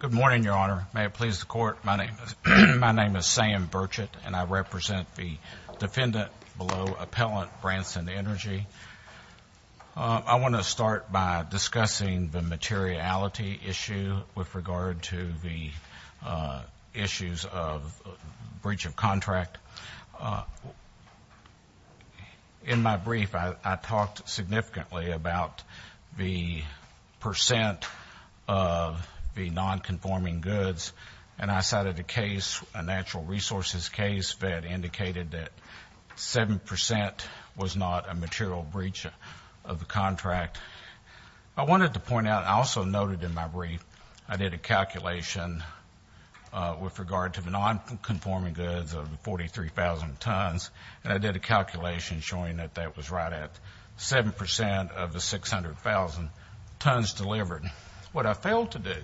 Good morning, Your Honor. May it please the Court, my name is Sam Burchett and I represent the defendant below Appellant Bransen Energy. I want to start by discussing the materiality issue with regard to the issues of breach of contract. In my brief, I talked significantly about the percent of the non-conforming goods and I cited a case, a natural resources case that indicated that 7% was not a material breach of the contract. I wanted to point out, I also noted in my brief, I did a calculation with regard to the non-conforming goods of 43,000 tons and I did a calculation showing that that was right at 7% of the 600,000 tons delivered. What I failed to do,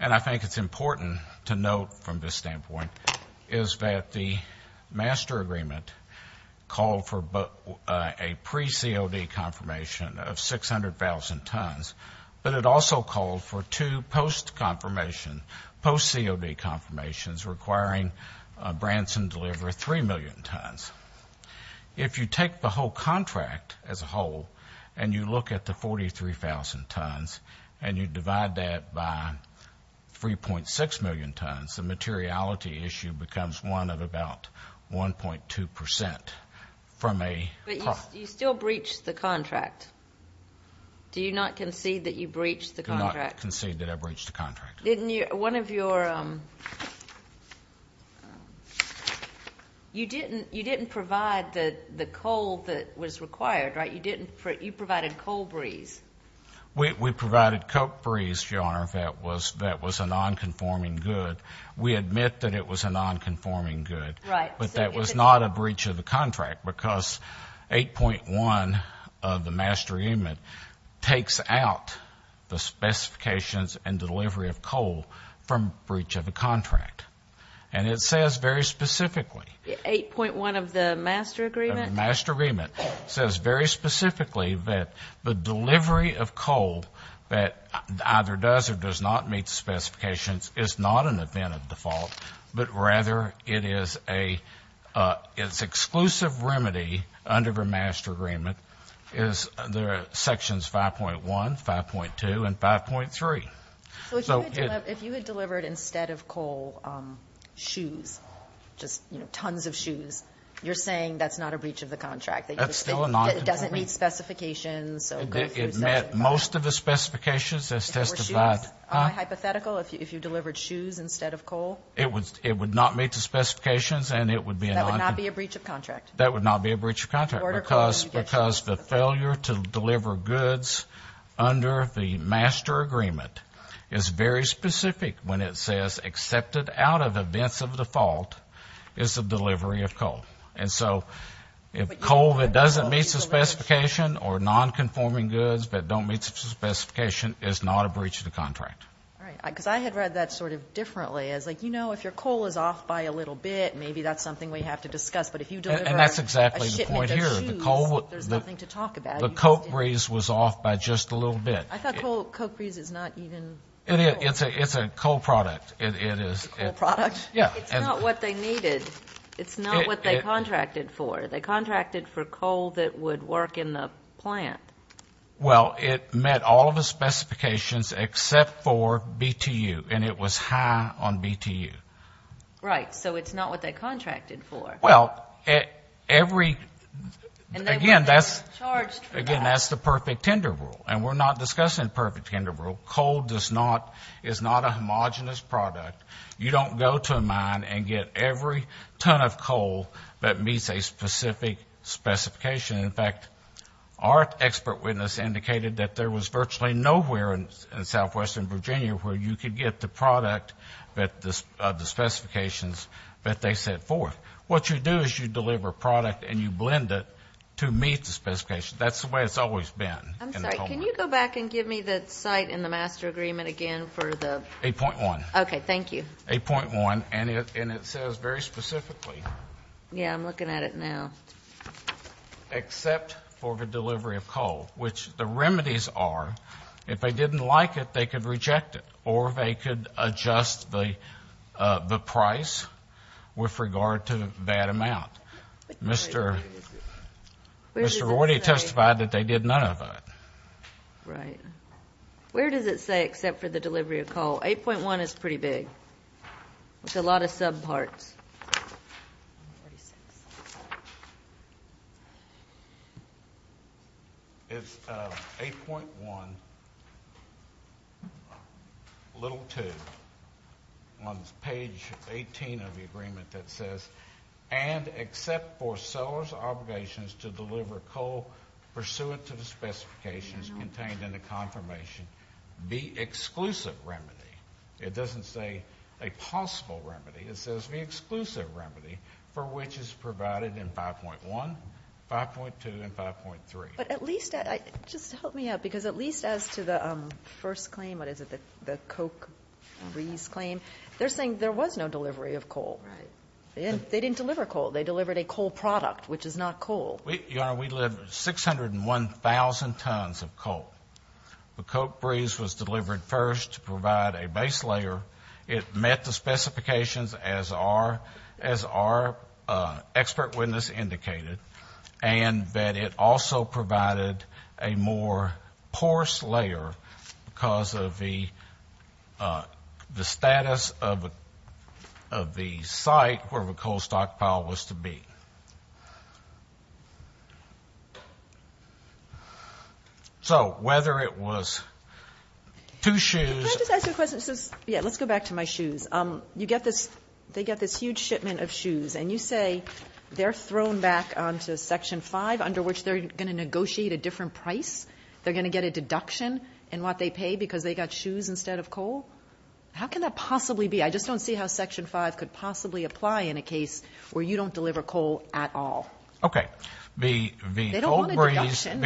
and I think it's important to note from this standpoint, is that the master agreement called for a pre-COD confirmation of 600,000 tons, but it also called for two post-COD confirmations requiring Bransen deliver 3 million tons. If you take the whole contract as a whole and you look at the 43,000 tons and you divide that by 3.6 million tons, the materiality issue becomes one of about 1.2% from a But you still breached the contract. Do you not concede that you breached the contract? Do not concede that I breached the contract. One of your, you didn't provide the coal that was required, right? You provided coal breeze. We provided coal breeze, Your Honor, that was a non-conforming good. We admit that it was a non-conforming good, but that was not a breach of the contract because 8.1 of the master agreement takes out the specifications and delivery of coal from breach of the contract. And it says very specifically 8.1 of the master agreement? 8.1 of the master agreement says very specifically that the delivery of coal that either does or does not meet the specifications is not an event of default, but rather it is a, it's exclusive remedy under the master agreement is the sections 5.1, 5.2, and 5.3. So if you had delivered instead of coal, shoes, just, you know, tons of shoes, you're saying that's not a breach of the contract. That's still a non-conforming. It doesn't meet specifications. It met most of the specifications as testified. If your shoes are hypothetical, if you delivered shoes instead of coal? It would not meet the specifications and it would be a non-conforming. That would not be a breach of contract? That would not be a breach of contract because the failure to deliver goods under the master agreement is very specific when it says accepted out of events of default is the delivery of coal. And so if coal that doesn't meet the specification or non-conforming goods that don't meet the specification is not a breach of the contract. All right. Because I had read that sort of differently as like, you know, if your coal is off by a little bit, maybe that's something we have to discuss. But if you deliver a shipment of shoes, there's nothing to talk about. The coke breeze was off by just a little bit. I thought coke breeze is not even coal. It's a coal product. It is. It's a coal product? Yeah. It's not what they needed. It's not what they contracted for. They contracted for coal that would work in the plant. Well, it met all of the specifications except for BTU and it was high on BTU. Right. So it's not what they contracted for. Well, every, again, that's the perfect tender rule. And we're not discussing perfect tender rule. Coal is not a homogenous product. You don't go to a mine and get every ton of coal that meets a specific specification. In fact, our expert witness indicated that there was virtually nowhere in southwestern Virginia where you could get the product of the specifications that they set forth. What you do is you deliver product and you blend it to meet the specifications. That's the way it's always been. I'm sorry. Can you go back and give me the site and the master agreement again for the ---- 8.1. Okay. Thank you. 8.1. And it says very specifically. Yeah, I'm looking at it now. Except for the delivery of coal, which the remedies are, if they didn't like it, they could reject it or they could adjust the price with regard to that amount. Mr. Rorty testified that they did none of it. Right. Where does it say except for the delivery of coal? 8.1 is pretty big with a lot of subparts. It's 8.1, little 2 on page 18 of the agreement that says, and except for seller's obligations to deliver coal pursuant to the specifications contained in the confirmation, the exclusive remedy. It doesn't say a possible remedy. It says the exclusive remedy for which is provided in 5.1, 5.2, and 5.3. But at least, just help me out, because at least as to the first claim, what is it, the Coke Rees claim, they're saying there was no delivery of coal. Right. They didn't deliver coal. They delivered a coal product, which is not coal. Your Honor, we delivered 601,000 tons of coal. The Coke Rees was delivered first to provide a base layer. It met the specifications as our expert witness indicated, and that it also provided a more porous layer because of the status of the site where the coal stockpile was to be. So whether it was two shoes. Can I just ask you a question? Yeah, let's go back to my shoes. You get this, they get this huge shipment of shoes, and you say they're thrown back onto Section 5 under which they're going to negotiate a different price. They're going to get a deduction in what they pay because they got shoes instead of coal. How can that possibly be? I just don't see how Section 5 could possibly apply in a case where you don't deliver coal at all. Okay. The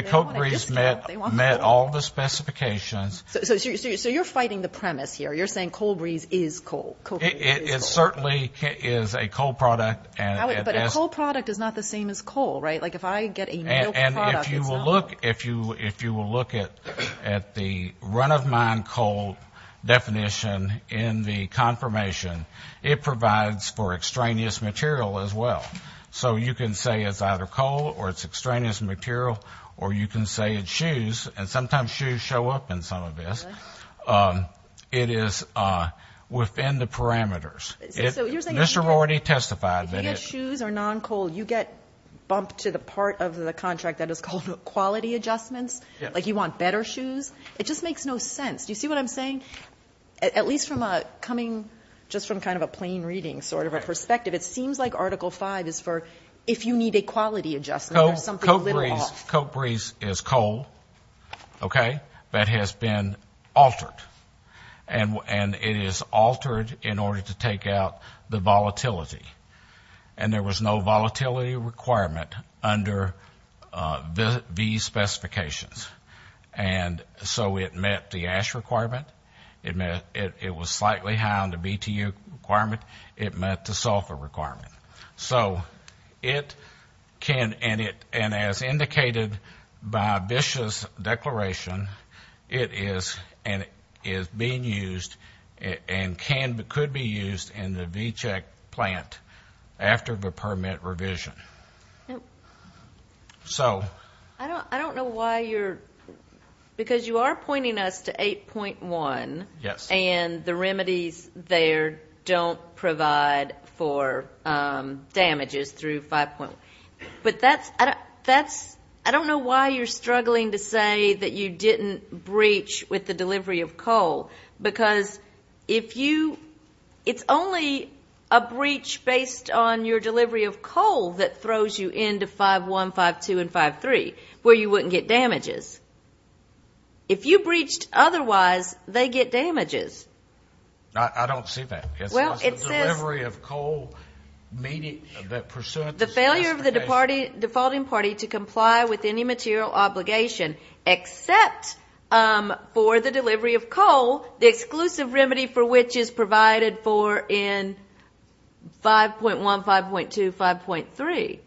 Coke Rees met all the specifications. So you're fighting the premise here. You're saying Coke Rees is coal. It certainly is a coal product. But a coal product is not the same as coal, right? And if you will look at the run-of-mine coal definition in the confirmation, it provides for extraneous material as well. So you can say it's either coal or it's extraneous material, or you can say it's shoes, and sometimes shoes show up in some of this. It is within the parameters. So you're saying if you get shoes or non-coal, you get bumped to the part of the contract that is called quality adjustments? Yes. Like you want better shoes? It just makes no sense. Do you see what I'm saying? At least from a coming just from kind of a plain reading sort of a perspective, it seems like Article 5 is for if you need a quality adjustment. Coke Rees is coal, okay, that has been altered. And it is altered in order to take out the volatility. And there was no volatility requirement under these specifications. And so it met the ash requirement. It was slightly high on the BTU requirement. It met the sulfur requirement. So it can, and as indicated by Bish's declaration, it is being used and could be used in the V-Check plant after the permit revision. I don't know why you're, because you are pointing us to 8.1. Yes. And the remedies there don't provide for damages through 5.1. But that's, I don't know why you're struggling to say that you didn't breach with the delivery of coal. Because if you, it's only a breach based on your delivery of coal that throws you into 5.1, 5.2, and 5.3, where you wouldn't get damages. If you breached otherwise, they get damages. I don't see that. Well, it says the failure of the defaulting party to comply with any material obligation except for the delivery of coal, the exclusive remedy for which is provided for in 5.1, 5.2, 5.3.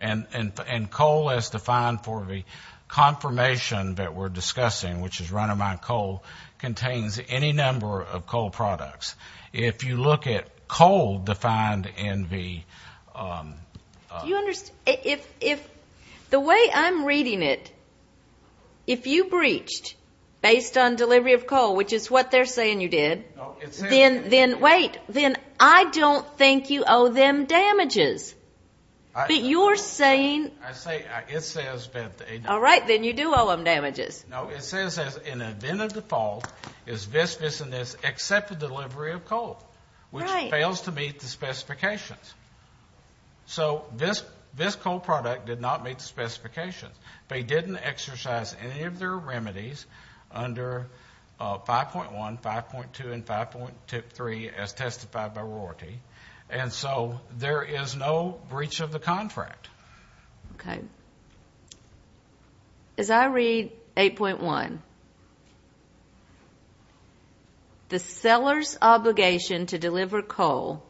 And coal is defined for the confirmation that we're discussing, which is run-of-mine coal contains any number of coal products. If you look at coal defined in the ---- Do you understand? If the way I'm reading it, if you breached based on delivery of coal, which is what they're saying you did, then wait, then I don't think you owe them damages. But you're saying ---- I say it says that they ---- All right. Then you do owe them damages. No, it says as an event of default is this business except the delivery of coal, which fails to meet the specifications. So this coal product did not meet the specifications. They didn't exercise any of their remedies under 5.1, 5.2, and 5.3 as testified by Rorty. And so there is no breach of the contract. Okay. As I read 8.1, the seller's obligation to deliver coal,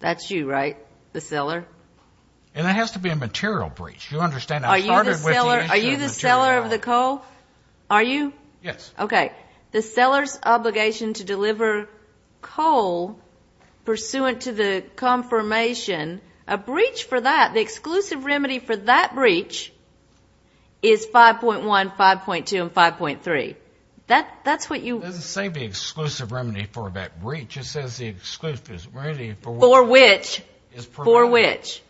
that's you, right, the seller? And it has to be a material breach. Do you understand? Are you the seller of the coal? Are you? Yes. Okay. The seller's obligation to deliver coal pursuant to the confirmation, a breach for that, the exclusive remedy for that breach is 5.1, 5.2, and 5.3. That's what you ---- It doesn't say the exclusive remedy for that breach. It says the exclusive remedy for which ---- For which.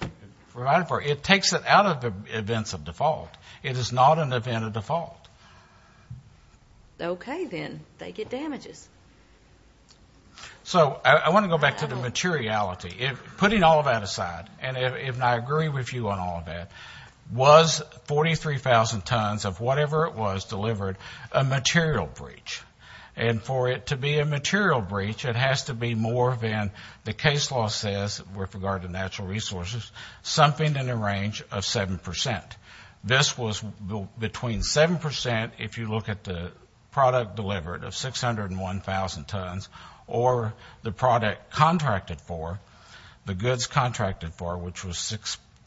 For which. It takes it out of the events of default. It is not an event of default. Okay, then. They get damages. So I want to go back to the materiality. Putting all of that aside, and I agree with you on all of that, was 43,000 tons of whatever it was delivered a material breach? And for it to be a material breach, it has to be more than the case law says with regard to natural resources, something in the range of 7%. This was between 7% if you look at the product delivered of 601,000 tons or the product contracted for, the goods contracted for, which was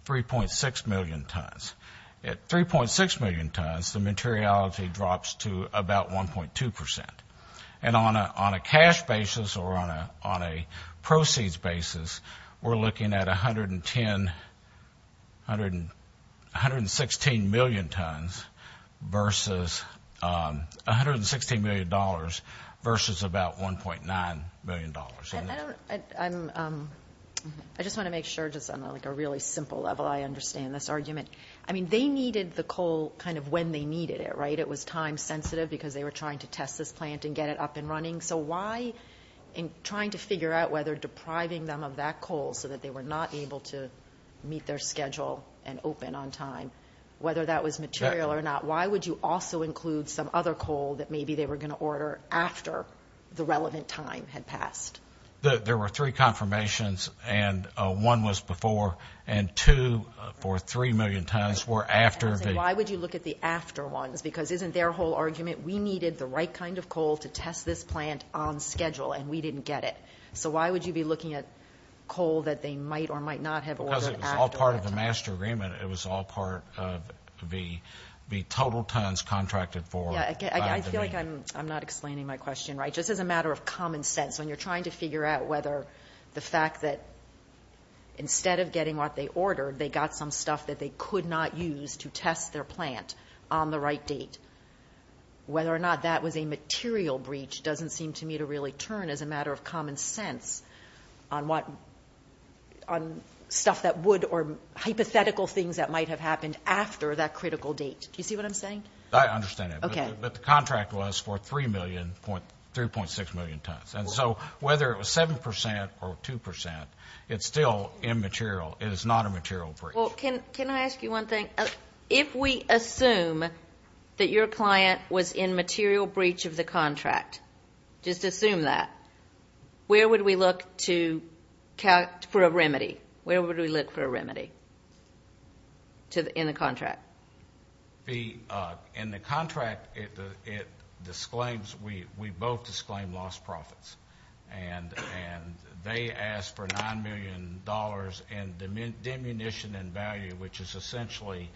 3.6 million tons. At 3.6 million tons, the materiality drops to about 1.2%. And on a cash basis or on a proceeds basis, we're looking at 110, 116 million tons versus $116 million versus about $1.9 million. I just want to make sure, just on a really simple level, I understand this argument. I mean, they needed the coal kind of when they needed it, right? It was time sensitive because they were trying to test this plant and get it up and running. So why in trying to figure out whether depriving them of that coal so that they were not able to meet their schedule and open on time, whether that was material or not, why would you also include some other coal that maybe they were going to order after the relevant time had passed? There were three confirmations, and one was before, and two for 3 million tons were after. Why would you look at the after ones? Because isn't their whole argument, we needed the right kind of coal to test this plant on schedule, and we didn't get it. So why would you be looking at coal that they might or might not have ordered after that time? Because it was all part of the master agreement. It was all part of the total tons contracted for. I feel like I'm not explaining my question right. Just as a matter of common sense, when you're trying to figure out whether the fact that instead of getting what they ordered, they got some stuff that they could not use to test their plant on the right date, whether or not that was a material breach doesn't seem to me to really turn, as a matter of common sense, on stuff that would or hypothetical things that might have happened after that critical date. Do you see what I'm saying? I understand that. Okay. But the contract was for 3 million, 3.6 million tons. And so whether it was 7 percent or 2 percent, it's still immaterial. It is not a material breach. Well, can I ask you one thing? If we assume that your client was in material breach of the contract, just assume that, where would we look for a remedy? Where would we look for a remedy in the contract? In the contract, it disclaims we both disclaim lost profits. And they asked for $9 million in diminution in value, which is essentially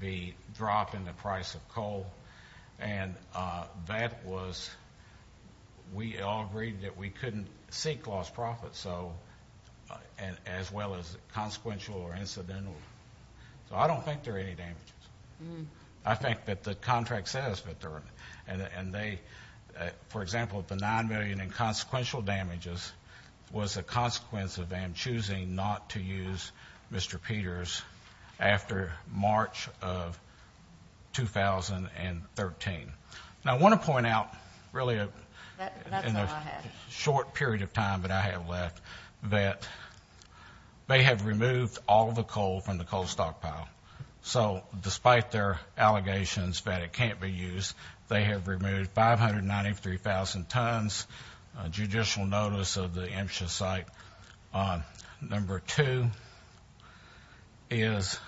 the drop in the price of coal. And that was we all agreed that we couldn't seek lost profits, as well as consequential or incidental. So I don't think there are any damages. I think that the contract says that there are. And they, for example, the $9 million in consequential damages was a consequence of them choosing not to use Mr. Peters after March of 2013. Now, I want to point out really in the short period of time that I have left that they have removed all the coal from the coal stockpile. So despite their allegations that it can't be used, they have removed 593,000 tons, judicial notice of the MCHA site. Number two is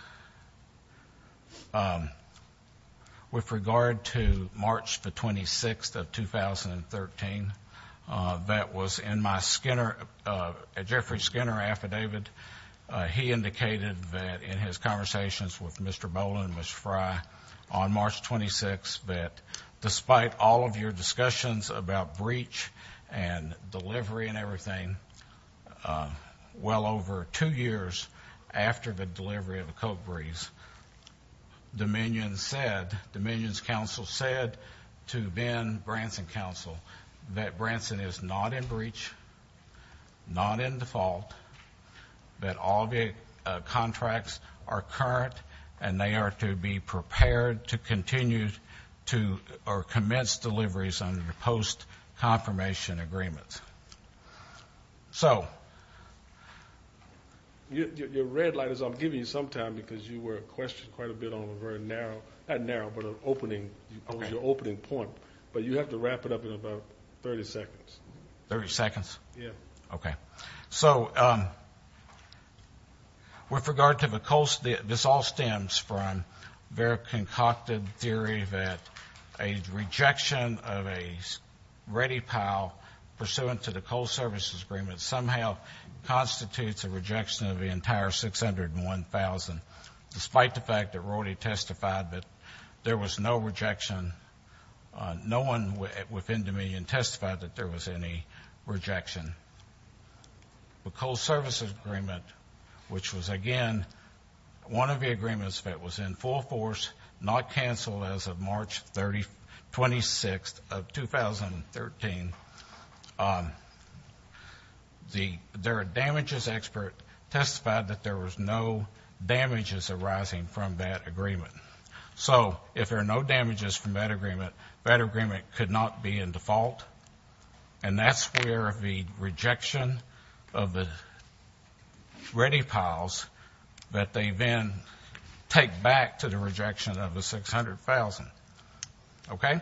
with regard to March the 26th of 2013, that was in my Skinner, Jeffrey Skinner affidavit. He indicated that in his conversations with Mr. Bowlin and Ms. Fry on March 26th that despite all of your discussions about breach and delivery and everything, well over two years after the delivery of the coal breeze, Dominion said, Dominion's counsel said to Ben Branson's counsel that Branson is not in breach, not in default, that all the contracts are current and they are to be prepared to continue to or commence deliveries under the post-confirmation agreements. So your red light is I'm giving you some time because you were questioned quite a bit on a very narrow, not narrow, but an opening, your opening point. But you have to wrap it up in about 30 seconds. Thirty seconds? Yes. Okay. So with regard to the coal, this all stems from their concocted theory that a rejection of a ready pile pursuant to the coal services agreement somehow constitutes a rejection of the entire 601,000, despite the fact that we already testified that there was no rejection. No one within Dominion testified that there was any rejection. The coal services agreement, which was, again, one of the agreements that was in full force, not canceled as of March 26th of 2013, their damages expert testified that there was no damages arising from that agreement. So if there are no damages from that agreement, that agreement could not be in default, and that's where the rejection of the ready piles, that they then take back to the rejection of the 600,000. Okay?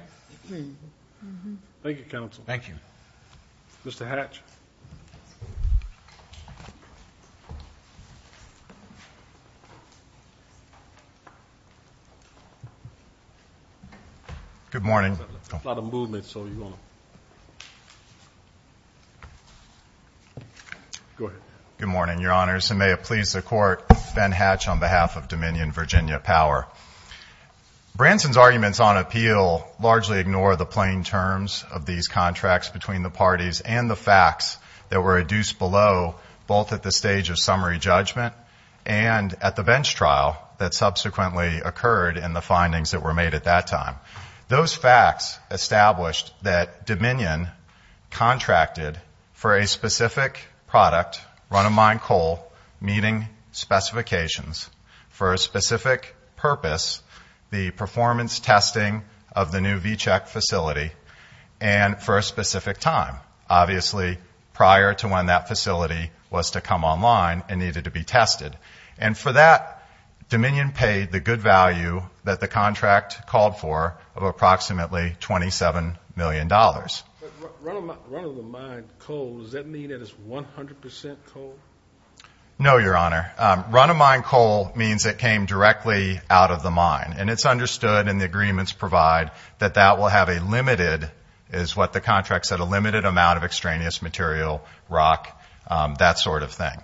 Thank you, Counsel. Thank you. Mr. Hatch. Good morning. There's a lot of movement, so you want to go ahead. Good morning, Your Honors, and may it please the Court, Ben Hatch on behalf of Dominion Virginia Power. Branson's arguments on appeal largely ignore the plain terms of these contracts between the parties and the facts that were reduced below, both at the stage of summary judgment and at the bench trial that subsequently occurred in the findings that were made at that time. Those facts established that Dominion contracted for a specific product, run-of-mine coal meeting specifications, for a specific purpose, the performance testing of the new V-Check facility, and for a specific time. Obviously, prior to when that facility was to come online and needed to be tested. And for that, Dominion paid the good value that the contract called for of approximately $27 million. Run-of-the-mine coal, does that mean that it's 100% coal? No, Your Honor. Run-of-mine coal means it came directly out of the mine, and it's understood in the agreements provided that that will have a limited, is what the contract said, a limited amount of extraneous material, rock, that sort of thing.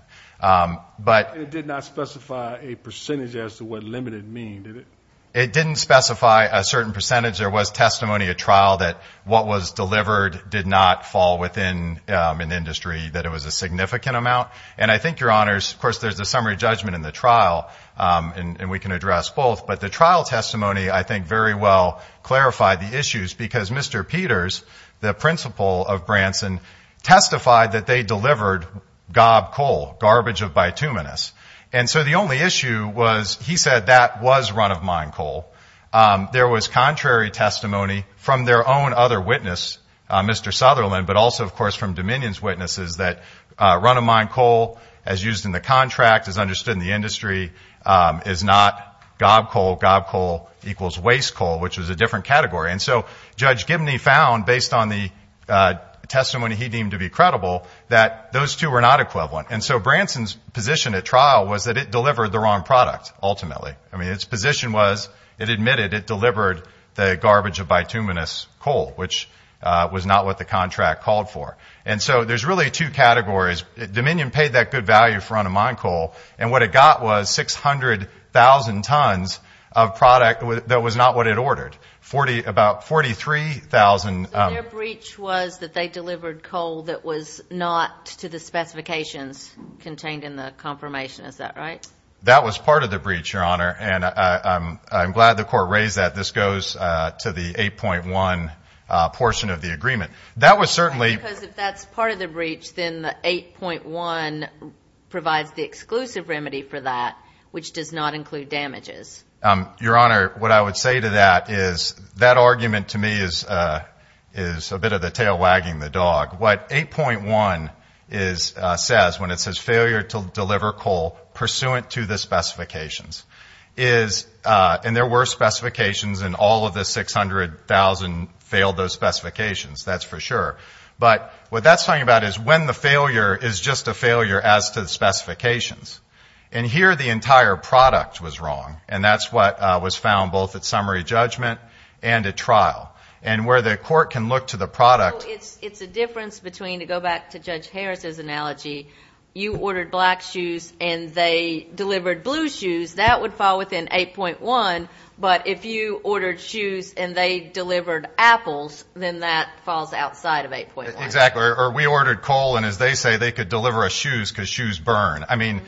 But it did not specify a percentage as to what limited mean, did it? It didn't specify a certain percentage. There was testimony at trial that what was delivered did not fall within an industry, that it was a significant amount. And I think, Your Honors, of course, there's a summary judgment in the trial, and we can address both. But the trial testimony, I think, very well clarified the issues, because Mr. Peters, the principal of Branson, testified that they delivered gob coal, garbage of bituminous. And so the only issue was he said that was run-of-mine coal. There was contrary testimony from their own other witness, Mr. Sutherland, but also, of course, from Dominion's witnesses, that run-of-mine coal, as used in the contract, as understood in the industry, is not gob coal. Gob coal equals waste coal, which was a different category. And so Judge Gibney found, based on the testimony he deemed to be credible, that those two were not equivalent. And so Branson's position at trial was that it delivered the wrong product, ultimately. I mean, its position was it admitted it delivered the garbage of bituminous coal, which was not what the contract called for. And so there's really two categories. Dominion paid that good value for run-of-mine coal. And what it got was 600,000 tons of product that was not what it ordered, about 43,000. So their breach was that they delivered coal that was not to the specifications contained in the confirmation. Is that right? That was part of the breach, Your Honor. And I'm glad the court raised that. This goes to the 8.1 portion of the agreement. Because if that's part of the breach, then the 8.1 provides the exclusive remedy for that, which does not include damages. Your Honor, what I would say to that is that argument to me is a bit of the tail wagging the dog. What 8.1 says, when it says failure to deliver coal pursuant to the specifications, is, and there were specifications and all of the 600,000 failed those specifications, that's for sure. But what that's talking about is when the failure is just a failure as to the specifications. And here the entire product was wrong. And that's what was found both at summary judgment and at trial. And where the court can look to the product. So it's a difference between, to go back to Judge Harris's analogy, you ordered black shoes and they delivered blue shoes. That would fall within 8.1. But if you ordered shoes and they delivered apples, then that falls outside of 8.1. Exactly. Or we ordered coal and, as they say, they could deliver us shoes because shoes burn. I mean,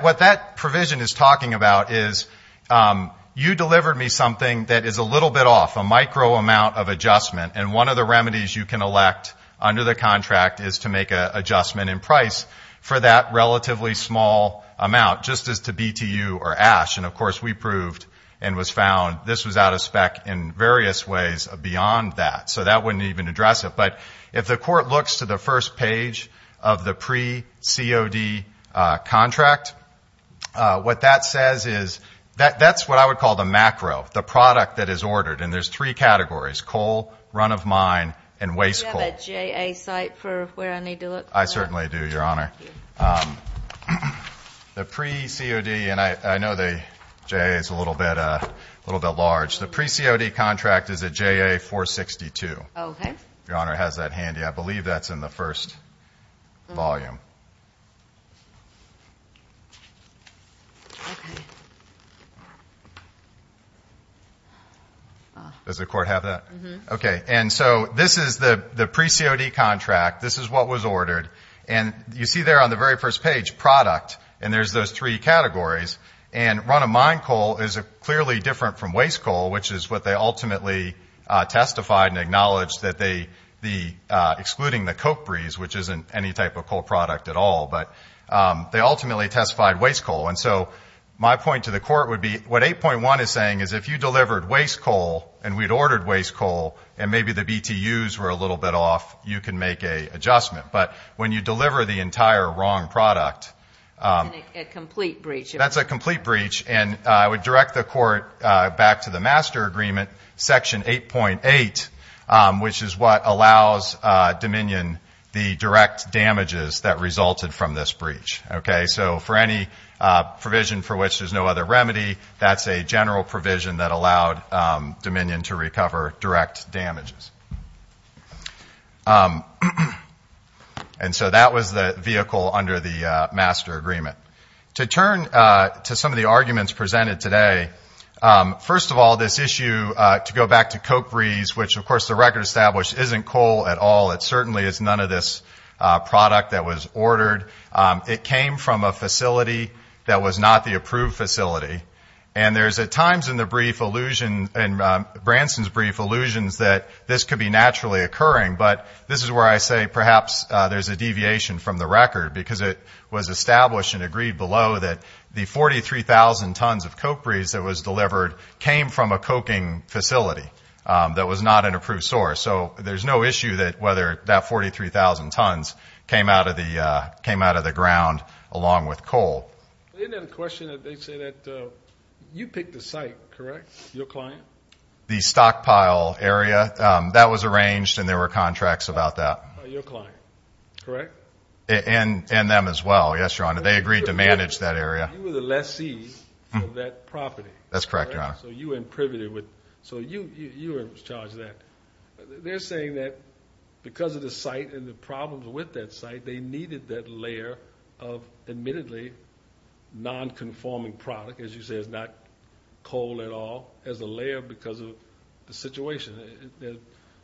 what that provision is talking about is you delivered me something that is a little bit off, a micro amount of adjustment. And one of the remedies you can elect under the contract is to make an adjustment in price for that relatively small amount, just as to BTU or ash. And, of course, we proved and was found this was out of spec in various ways beyond that. So that wouldn't even address it. But if the court looks to the first page of the pre-COD contract, what that says is, that's what I would call the macro, the product that is ordered. And there's three categories, coal, run of mine, and waste coal. Do you have a JA site for where I need to look? I certainly do, Your Honor. Thank you. The pre-COD, and I know the JA is a little bit large. The pre-COD contract is a JA 462. Okay. If Your Honor has that handy. I believe that's in the first volume. Okay. Does the court have that? Mm-hmm. Okay. And so this is the pre-COD contract. This is what was ordered. And you see there on the very first page, product, and there's those three categories. And run of mine coal is clearly different from waste coal, which is what they ultimately testified and acknowledged that they, excluding the Coke Breeze, which isn't any type of coal product at all, but they ultimately testified waste coal. And so my point to the court would be what 8.1 is saying is if you delivered waste coal and we'd ordered waste coal and maybe the BTUs were a little bit off, you can make an adjustment. But when you deliver the entire wrong product. That's a complete breach. That's a complete breach. And I would direct the court back to the master agreement, Section 8.8, which is what allows Dominion the direct damages that resulted from this breach. Okay. So for any provision for which there's no other remedy, that's a general provision that allowed Dominion to recover direct damages. And so that was the vehicle under the master agreement. To turn to some of the arguments presented today, first of all, this issue, to go back to Coke Breeze, which, of course, the record established isn't coal at all. It certainly is none of this product that was ordered. It came from a facility that was not the approved facility. And there's at times in the brief allusion, in Branson's brief allusions, that this could be naturally occurring. But this is where I say perhaps there's a deviation from the record, because it was established and agreed below that the 43,000 tons of Coke Breeze that was delivered came from a coking facility that was not an approved source. So there's no issue that whether that 43,000 tons came out of the ground along with coal. They didn't have a question. They say that you picked the site, correct, your client? The stockpile area. That was arranged, and there were contracts about that. Your client, correct? And them as well, yes, Your Honor. They agreed to manage that area. You were the lessee of that property. That's correct, Your Honor. So you were privy to it. So you were in charge of that. They're saying that because of the site and the problems with that site, they needed that layer of admittedly nonconforming product, as you say, it's not coal at all, as a layer because of the situation.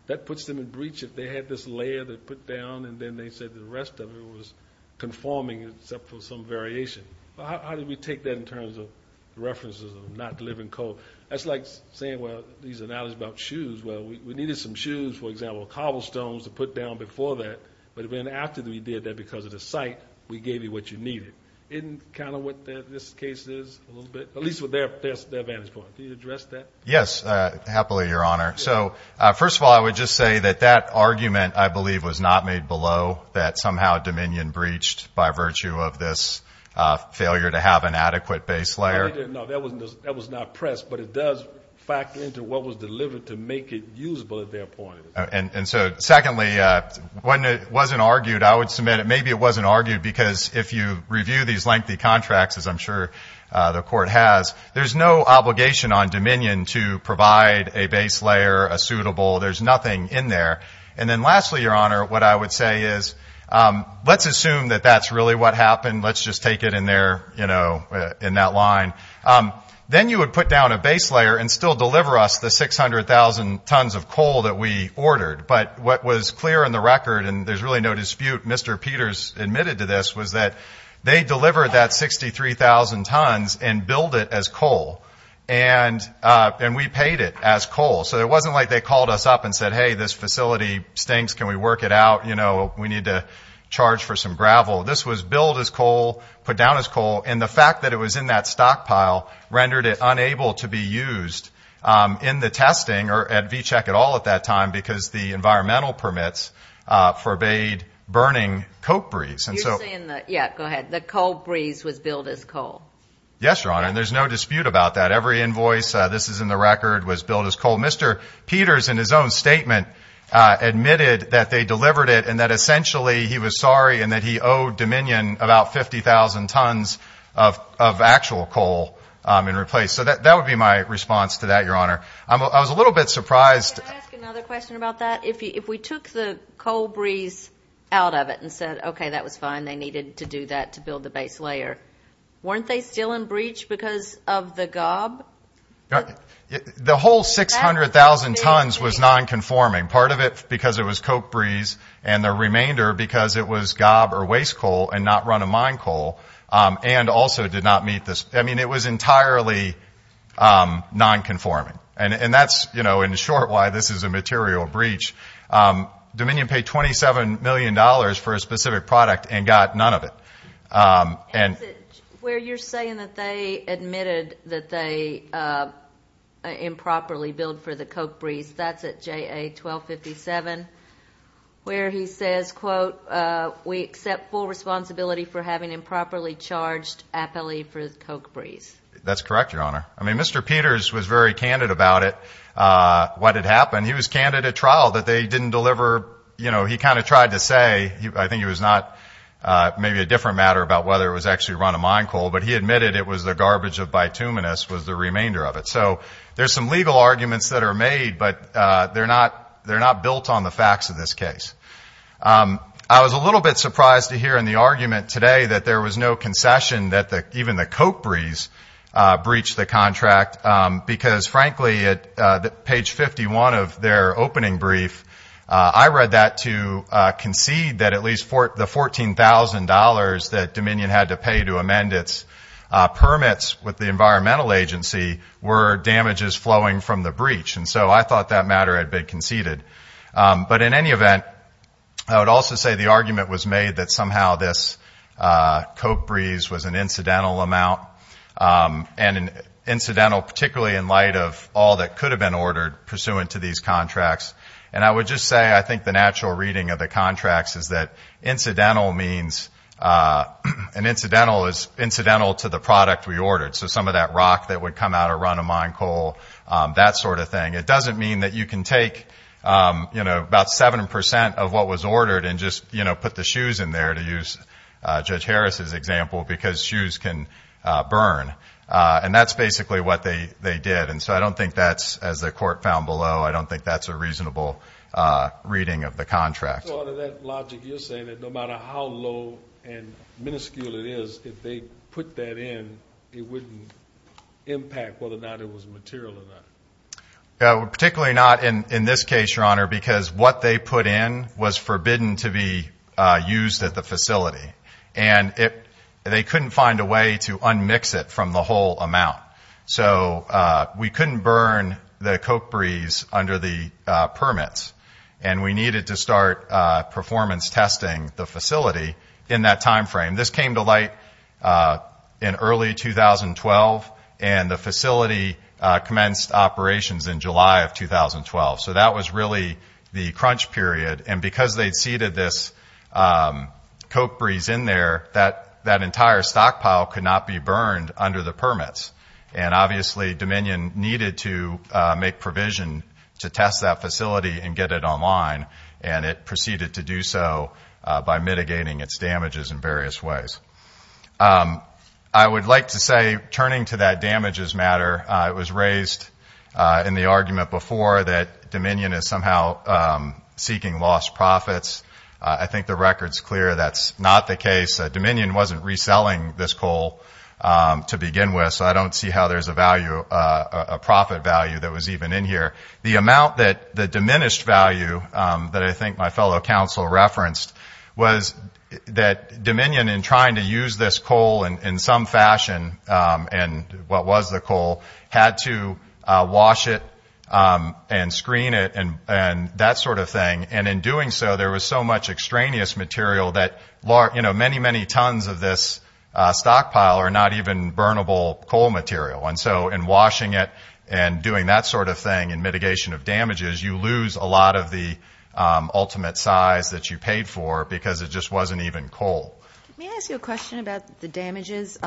That puts them in breach if they had this layer they put down, and then they said the rest of it was conforming except for some variation. How did we take that in terms of references of not delivering coal? That's like saying, well, these are knowledge about shoes. Well, we needed some shoes, for example, cobblestones to put down before that, but then after we did that because of the site, we gave you what you needed. Isn't kind of what this case is a little bit, at least with their vantage point? Can you address that? Yes, happily, Your Honor. So, first of all, I would just say that that argument, I believe, was not made below, that somehow Dominion breached by virtue of this failure to have an adequate base layer. No, that was not pressed, but it does factor into what was delivered to make it usable at their point. And so, secondly, when it wasn't argued, I would submit maybe it wasn't argued because if you review these lengthy contracts, as I'm sure the Court has, there's no obligation on Dominion to provide a base layer, a suitable. There's nothing in there. And then lastly, Your Honor, what I would say is let's assume that that's really what happened. Let's just take it in there, you know, in that line. Then you would put down a base layer and still deliver us the 600,000 tons of coal that we ordered. But what was clear in the record, and there's really no dispute, Mr. Peters admitted to this, was that they delivered that 63,000 tons and billed it as coal. And we paid it as coal. So it wasn't like they called us up and said, hey, this facility stinks. Can we work it out? You know, we need to charge for some gravel. This was billed as coal, put down as coal, and the fact that it was in that stockpile rendered it unable to be used in the testing or at V-Check at all at that time because the environmental permits forbade burning coke breeze. You're saying that, yeah, go ahead, the coke breeze was billed as coal. Yes, Your Honor, and there's no dispute about that. Every invoice, this is in the record, was billed as coal. Mr. Peters, in his own statement, admitted that they delivered it and that essentially he was sorry and that he owed Dominion about 50,000 tons of actual coal in replacement. So that would be my response to that, Your Honor. I was a little bit surprised. Can I ask another question about that? If we took the coal breeze out of it and said, okay, that was fine, they needed to do that to build the base layer, weren't they still in breach because of the gob? The whole 600,000 tons was nonconforming, part of it because it was coke breeze and the remainder because it was gob or waste coal and not run-of-mine coal and also did not meet this. I mean, it was entirely nonconforming. And that's, you know, in short why this is a material breach. Dominion paid $27 million for a specific product and got none of it. Where you're saying that they admitted that they improperly billed for the coke breeze, that's at JA 1257, where he says, quote, we accept full responsibility for having improperly charged appellee for the coke breeze. That's correct, Your Honor. I mean, Mr. Peters was very candid about it, what had happened. He was candid at trial that they didn't deliver, you know, he kind of tried to say, I think it was not maybe a different matter about whether it was actually run-of-mine coal, but he admitted it was the garbage of bituminous was the remainder of it. So there's some legal arguments that are made, but they're not built on the facts of this case. I was a little bit surprised to hear in the argument today that there was no concession, that even the coke breeze breached the contract because, frankly, at page 51 of their opening brief, I read that to concede that at least the $14,000 that Dominion had to pay to amend its permits with the environmental agency were damages flowing from the breach. And so I thought that matter had been conceded. But in any event, I would also say the argument was made that somehow this coke breeze was an incidental amount, and incidental particularly in light of all that could have been ordered pursuant to these contracts. And I would just say I think the natural reading of the contracts is that incidental means, and incidental is incidental to the product we ordered. So some of that rock that would come out of run-of-mine coal, that sort of thing. It doesn't mean that you can take, you know, about 7% of what was ordered and just, you know, put the shoes in there, to use Judge Harris's example, because shoes can burn. And that's basically what they did. And so I don't think that's, as the court found below, I don't think that's a reasonable reading of the contract. So out of that logic, you're saying that no matter how low and minuscule it is, if they put that in, it wouldn't impact whether or not it was material or not? Particularly not in this case, Your Honor, because what they put in was forbidden to be used at the facility. And they couldn't find a way to unmix it from the whole amount. So we couldn't burn the coke breeze under the permits. And we needed to start performance testing the facility in that time frame. This came to light in early 2012, and the facility commenced operations in July of 2012. So that was really the crunch period. And because they'd seeded this coke breeze in there, that entire stockpile could not be burned under the permits. And obviously Dominion needed to make provision to test that facility and get it online. And it proceeded to do so by mitigating its damages in various ways. I would like to say, turning to that damages matter, it was raised in the argument before that Dominion is somehow seeking lost profits. I think the record's clear that's not the case. Dominion wasn't reselling this coal to begin with. So I don't see how there's a profit value that was even in here. The amount that the diminished value that I think my fellow counsel referenced was that Dominion, in trying to use this coal in some fashion, and what was the coal, had to wash it and screen it and that sort of thing. And in doing so, there was so much extraneous material that many, many tons of this stockpile are not even burnable coal material. And so in washing it and doing that sort of thing in mitigation of damages, you lose a lot of the ultimate size that you paid for because it just wasn't even coal. Let me ask you a question about the damages.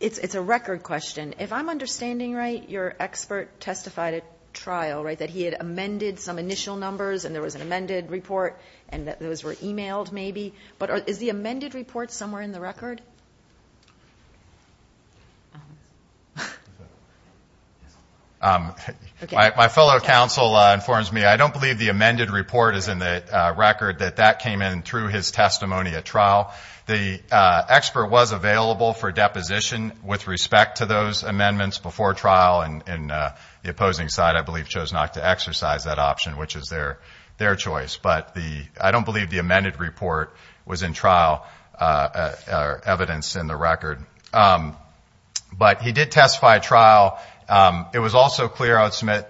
It's a record question. If I'm understanding right, your expert testified at trial, right, that he had amended some initial numbers and there was an amended report and that those were emailed maybe. But is the amended report somewhere in the record? My fellow counsel informs me I don't believe the amended report is in the record, The expert was available for deposition with respect to those amendments before trial, and the opposing side, I believe, chose not to exercise that option, which is their choice. But I don't believe the amended report was in trial evidence in the record. But he did testify at trial. It was also clear, I would submit,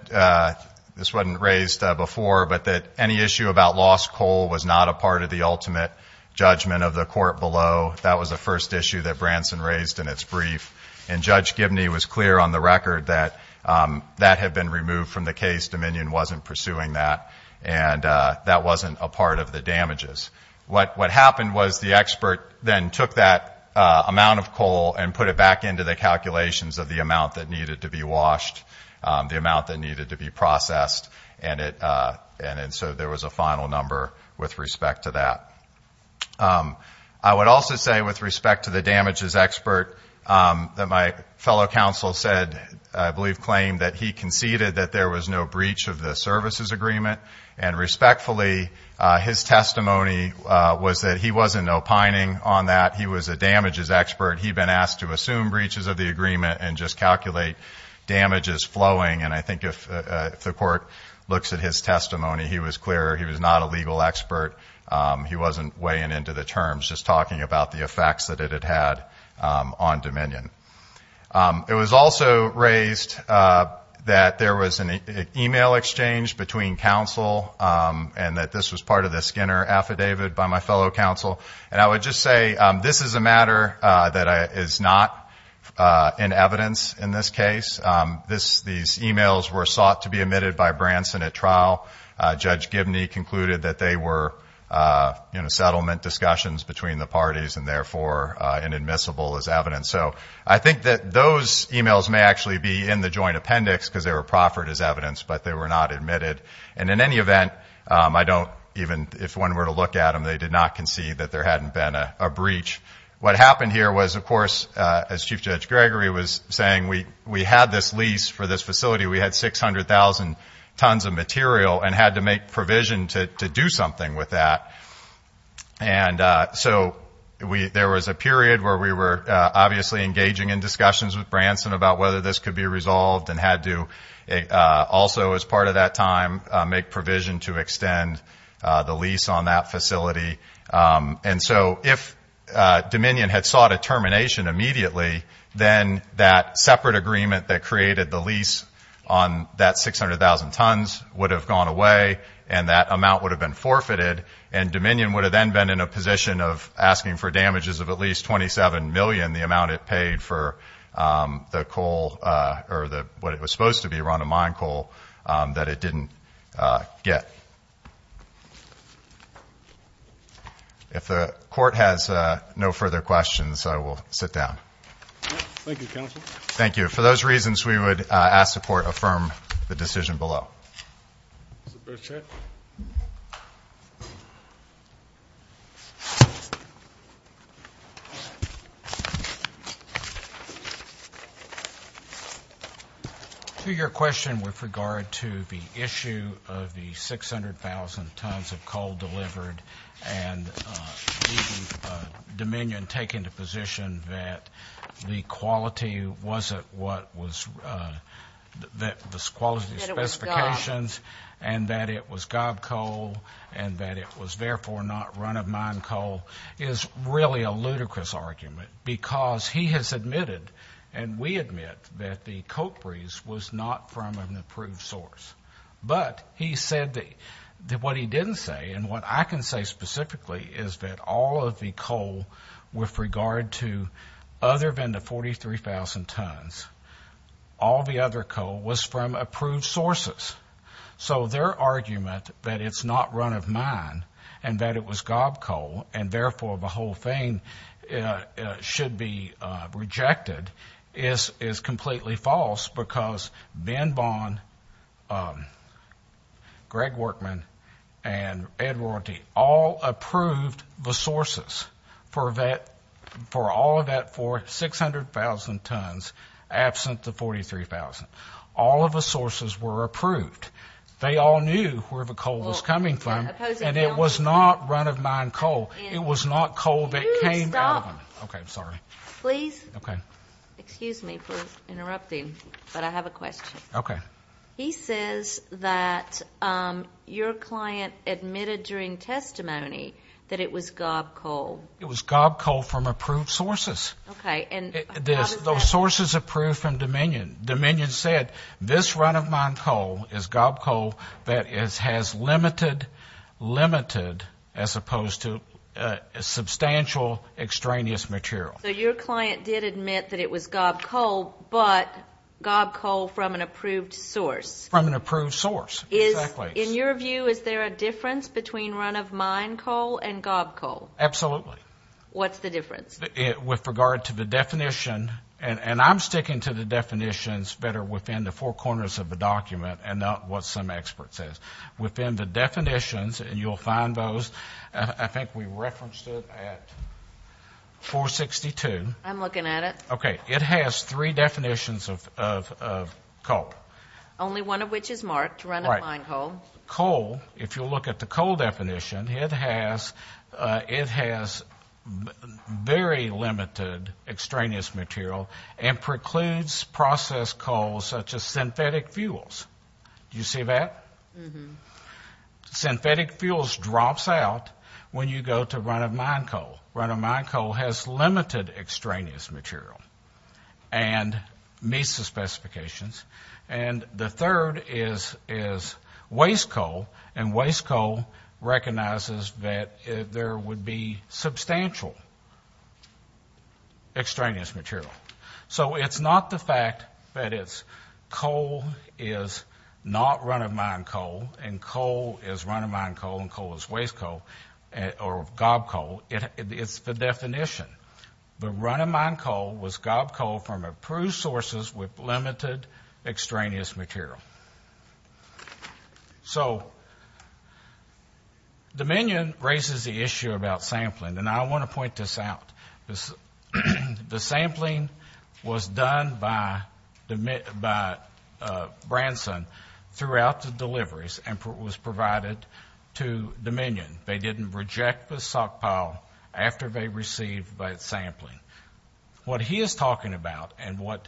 this wasn't raised before, but that any issue about lost coal was not a part of the ultimate judgment of the court below. That was the first issue that Branson raised in its brief. And Judge Gibney was clear on the record that that had been removed from the case. Dominion wasn't pursuing that. And that wasn't a part of the damages. What happened was the expert then took that amount of coal and put it back into the calculations of the amount that needed to be washed, the amount that needed to be processed. And so there was a final number with respect to that. I would also say, with respect to the damages expert, that my fellow counsel said, I believe claimed, that he conceded that there was no breach of the services agreement. And respectfully, his testimony was that he wasn't opining on that. He was a damages expert. He had been asked to assume breaches of the agreement and just calculate damages flowing. And I think if the court looks at his testimony, he was clear he was not a legal expert. He wasn't weighing into the terms, just talking about the effects that it had had on Dominion. It was also raised that there was an e-mail exchange between counsel and that this was part of the Skinner affidavit by my fellow counsel. And I would just say this is a matter that is not in evidence in this case. These e-mails were sought to be admitted by Branson at trial. Judge Gibney concluded that they were settlement discussions between the parties and therefore inadmissible as evidence. So I think that those e-mails may actually be in the joint appendix because they were proffered as evidence, but they were not admitted. And in any event, I don't even, if one were to look at them, they did not concede that there hadn't been a breach. What happened here was, of course, as Chief Judge Gregory was saying, we had this lease for this facility. We had 600,000 tons of material and had to make provision to do something with that. And so there was a period where we were obviously engaging in discussions with Branson about whether this could be resolved and had to also, as part of that time, make provision to extend the lease on that facility. And so if Dominion had sought a termination immediately, then that separate agreement that created the lease on that 600,000 tons would have gone away and that amount would have been forfeited. And Dominion would have then been in a position of asking for damages of at least 27 million, the amount it paid for the coal, or what it was supposed to be, Rhonda Mine coal that it didn't get. If the court has no further questions, I will sit down. Thank you, counsel. Thank you. For those reasons, we would ask the court to affirm the decision below. To your question with regard to the issue of the 600,000 tons of coal delivered and Dominion taking the position that the quality wasn't what was, that the quality specifications and that it was gob coal and that it was therefore not Rhonda Mine coal is really a ludicrous argument because he has admitted and we admit that the coal freeze was not from an approved source. But he said that what he didn't say and what I can say specifically is that all of the coal with regard to other than the 43,000 tons, all the other coal was from approved sources. So their argument that it's not Rhonda Mine and that it was gob coal and therefore the whole thing should be rejected is completely false because Ben Bond, Greg Workman, and Ed Rorty all approved the sources for all of that 600,000 tons absent the 43,000. All of the sources were approved. They all knew where the coal was coming from. And it was not Rhonda Mine coal. It was not coal that came out of them. Okay, I'm sorry. Please. Okay. Excuse me for interrupting, but I have a question. Okay. He says that your client admitted during testimony that it was gob coal. It was gob coal from approved sources. Okay. Those sources approved from Dominion. Dominion said this Rhonda Mine coal is gob coal that has limited, limited as opposed to substantial extraneous material. So your client did admit that it was gob coal, but gob coal from an approved source. From an approved source, exactly. In your view, is there a difference between Rhonda Mine coal and gob coal? Absolutely. What's the difference? With regard to the definition, and I'm sticking to the definitions that are within the four corners of the document and not what some expert says. Within the definitions, and you'll find those, I think we referenced it at 462. I'm looking at it. Okay. It has three definitions of coal. Only one of which is marked Rhonda Mine coal. Right. Coal, if you'll look at the coal definition, it has very limited extraneous material and precludes processed coals such as synthetic fuels. Do you see that? Mm-hmm. Synthetic fuels drops out when you go to Rhonda Mine coal. Rhonda Mine coal has limited extraneous material and meets the specifications. And the third is waste coal, and waste coal recognizes that there would be substantial extraneous material. So it's not the fact that it's coal is not Rhonda Mine coal and coal is Rhonda Mine coal and coal is waste coal or gob coal. It's the definition. The Rhonda Mine coal was gob coal from approved sources with limited extraneous material. So Dominion raises the issue about sampling, and I want to point this out. The sampling was done by Branson throughout the deliveries and was provided to Dominion. They didn't reject the stockpile after they received that sampling. What he is talking about and what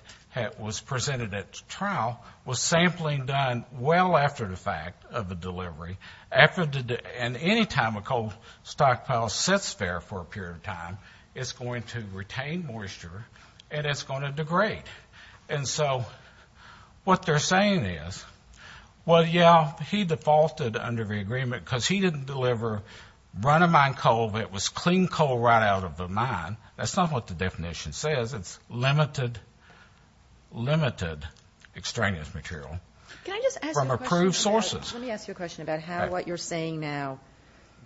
was presented at the trial was sampling done well after the fact of the delivery. And any time a coal stockpile sits there for a period of time, it's going to retain moisture and it's going to degrade. And so what they're saying is, well, yeah, he defaulted under the agreement because he didn't deliver Rhonda Mine coal, but it was clean coal right out of the mine. That's not what the definition says. It's limited extraneous material from approved sources. Let me ask you a question about how what you're saying now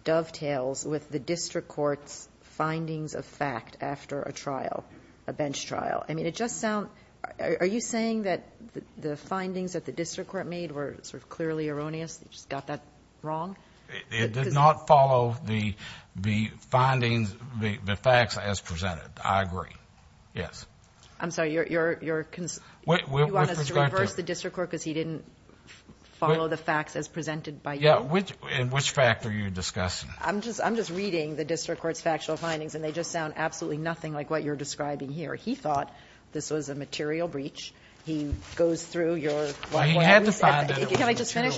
dovetails with the district court's findings of fact after a trial, a bench trial. I mean, it just sounds – are you saying that the findings that the district court made were sort of clearly erroneous, they just got that wrong? It did not follow the findings, the facts as presented. I agree. Yes. I'm sorry. You want us to reverse the district court because he didn't follow the facts as presented by you? Yeah. And which fact are you discussing? I'm just reading the district court's factual findings, and they just sound absolutely nothing like what you're describing here. He thought this was a material breach. He goes through your – He had to find out it was a material breach. Can I just finish?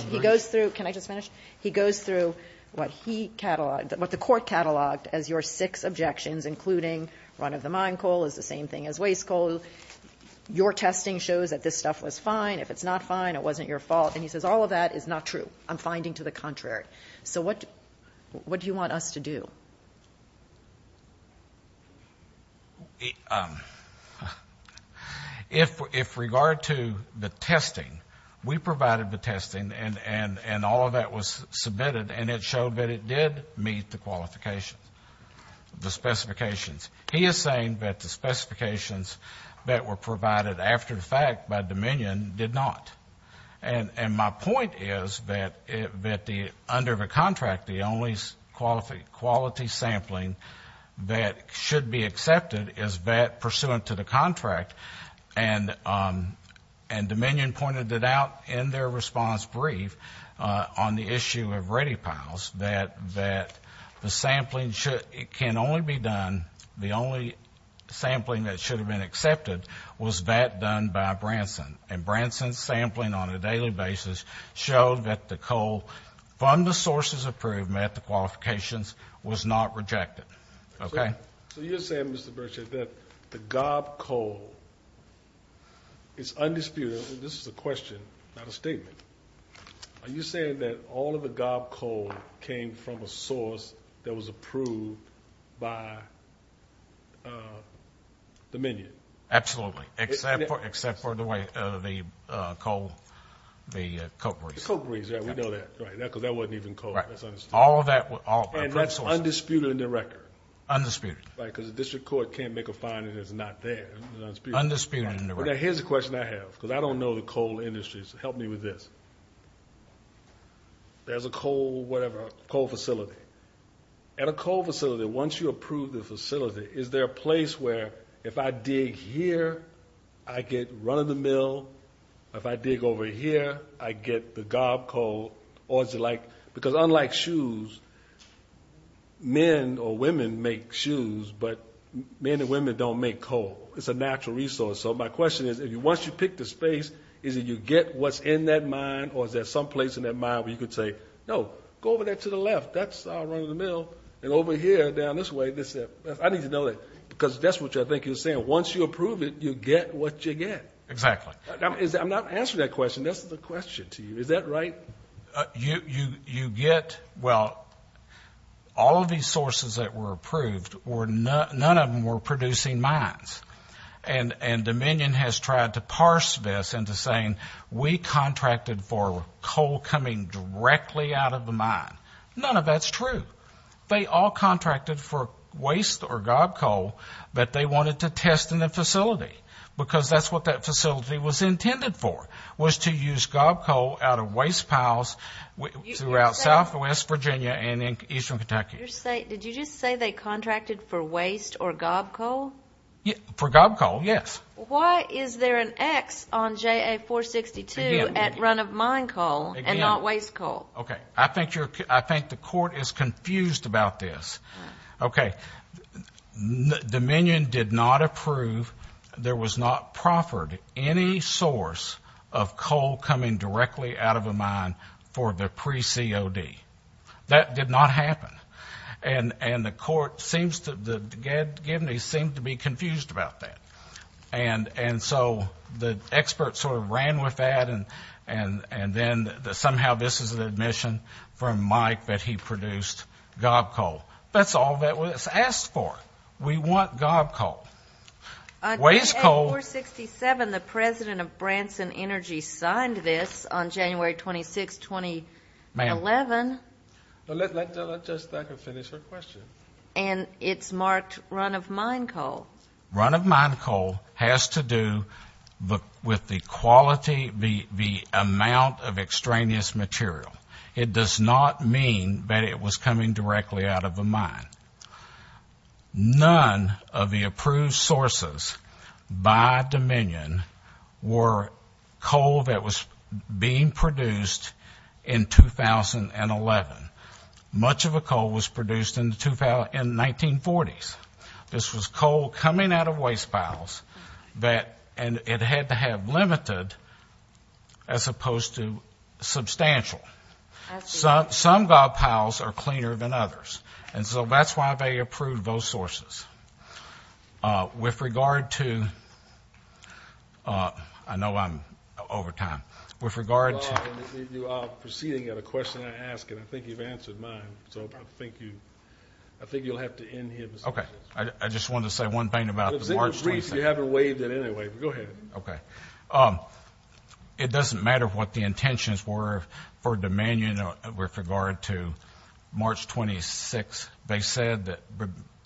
He goes through what he catalogued – what the court catalogued as your six objections, including run-of-the-mine coal is the same thing as waste coal. Your testing shows that this stuff was fine. If it's not fine, it wasn't your fault. And he says all of that is not true. I'm finding to the contrary. So what do you want us to do? If regard to the testing, we provided the testing, and all of that was submitted, and it showed that it did meet the qualifications, the specifications. He is saying that the specifications that were provided after the fact by Dominion did not. And my point is that under the contract, the only quality sampling that should be accepted is that pursuant to the contract, and Dominion pointed it out in their response brief on the issue of ready piles, that the sampling can only be done – the only sampling that should have been accepted was that done by Branson. And Branson's sampling on a daily basis showed that the coal from the sources approved met the qualifications, was not rejected. Okay? So you're saying, Mr. Burchard, that the gob coal is undisputed. This is a question, not a statement. Are you saying that all of the gob coal came from a source that was approved by Dominion? Absolutely. Except for the way the coal – the coke grease. The coke grease. Yeah, we know that. Right, because that wasn't even coal. That's undisputed. And that's undisputed in the record. Undisputed. Right, because the district court can't make a finding that's not there. Undisputed in the record. Here's a question I have, because I don't know the coal industries. Help me with this. There's a coal – whatever – coal facility. At a coal facility, once you approve the facility, is there a place where if I dig here, I get run of the mill? If I dig over here, I get the gob coal? Or is it like – because unlike shoes, men or women make shoes, but men and women don't make coal. It's a natural resource. So my question is, once you pick the space, is it you get what's in that mine, or is there some place in that mine where you could say, no, go over there to the left. That's run of the mill. And over here, down this way, I need to know that. Because that's what I think you're saying. Once you approve it, you get what you get. Exactly. I'm not answering that question. That's the question to you. Is that right? You get – well, all of these sources that were approved, none of them were producing mines. And Dominion has tried to parse this into saying we contracted for coal coming directly out of the mine. None of that's true. They all contracted for waste or gob coal, but they wanted to test in the facility, because that's what that facility was intended for, was to use gob coal out of waste piles throughout southwest Virginia and eastern Kentucky. Did you just say they contracted for waste or gob coal? For gob coal, yes. Why is there an X on JA-462 at run of mine coal and not waste coal? Okay. I think the court is confused about this. Okay. Dominion did not approve. There was not proffered any source of coal coming directly out of a mine for the pre-COD. That did not happen. And the court seems to be confused about that. And so the experts sort of ran with that, and then somehow this is an admission from Mike that he produced gob coal. That's all that was asked for. We want gob coal. Waste coal. On JA-467, the president of Branson Energy signed this on January 26, 2011. Let Judge Thacker finish her question. And it's marked run of mine coal. Run of mine coal has to do with the quality, the amount of extraneous material. It does not mean that it was coming directly out of a mine. None of the approved sources by Dominion were coal that was being produced in 2011. Much of the coal was produced in the 1940s. This was coal coming out of waste piles, and it had to have limited as opposed to substantial. Some gob piles are cleaner than others. And so that's why they approved those sources. With regard to ‑‑I know I'm over time. With regard to ‑‑ You are proceeding at a question I asked, and I think you've answered mine. So I think you'll have to end here. Okay. I just wanted to say one thing about the March 26th. You haven't waived it anyway, but go ahead. Okay. It doesn't matter what the intentions were for Dominion with regard to March 26th. They said that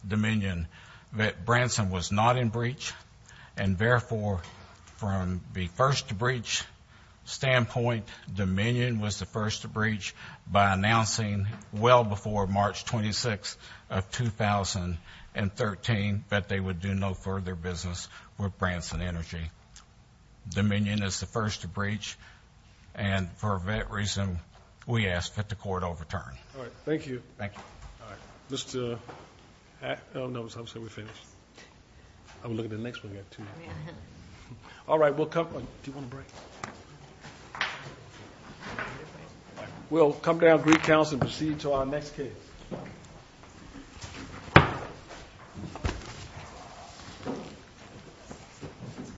Dominion, that Branson was not in breach, and, therefore, from the first breach standpoint, Dominion was the first to breach by announcing well before March 26th of 2013 that they would do no further business with Branson Energy. Dominion is the first to breach, and for that reason, we ask that the court overturn. All right. Thank you. Thank you. All right. I would say we're finished. I would look at the next one. We've got two more. All right. Do you want a break? We'll come down, greet counsel, and proceed to our next case.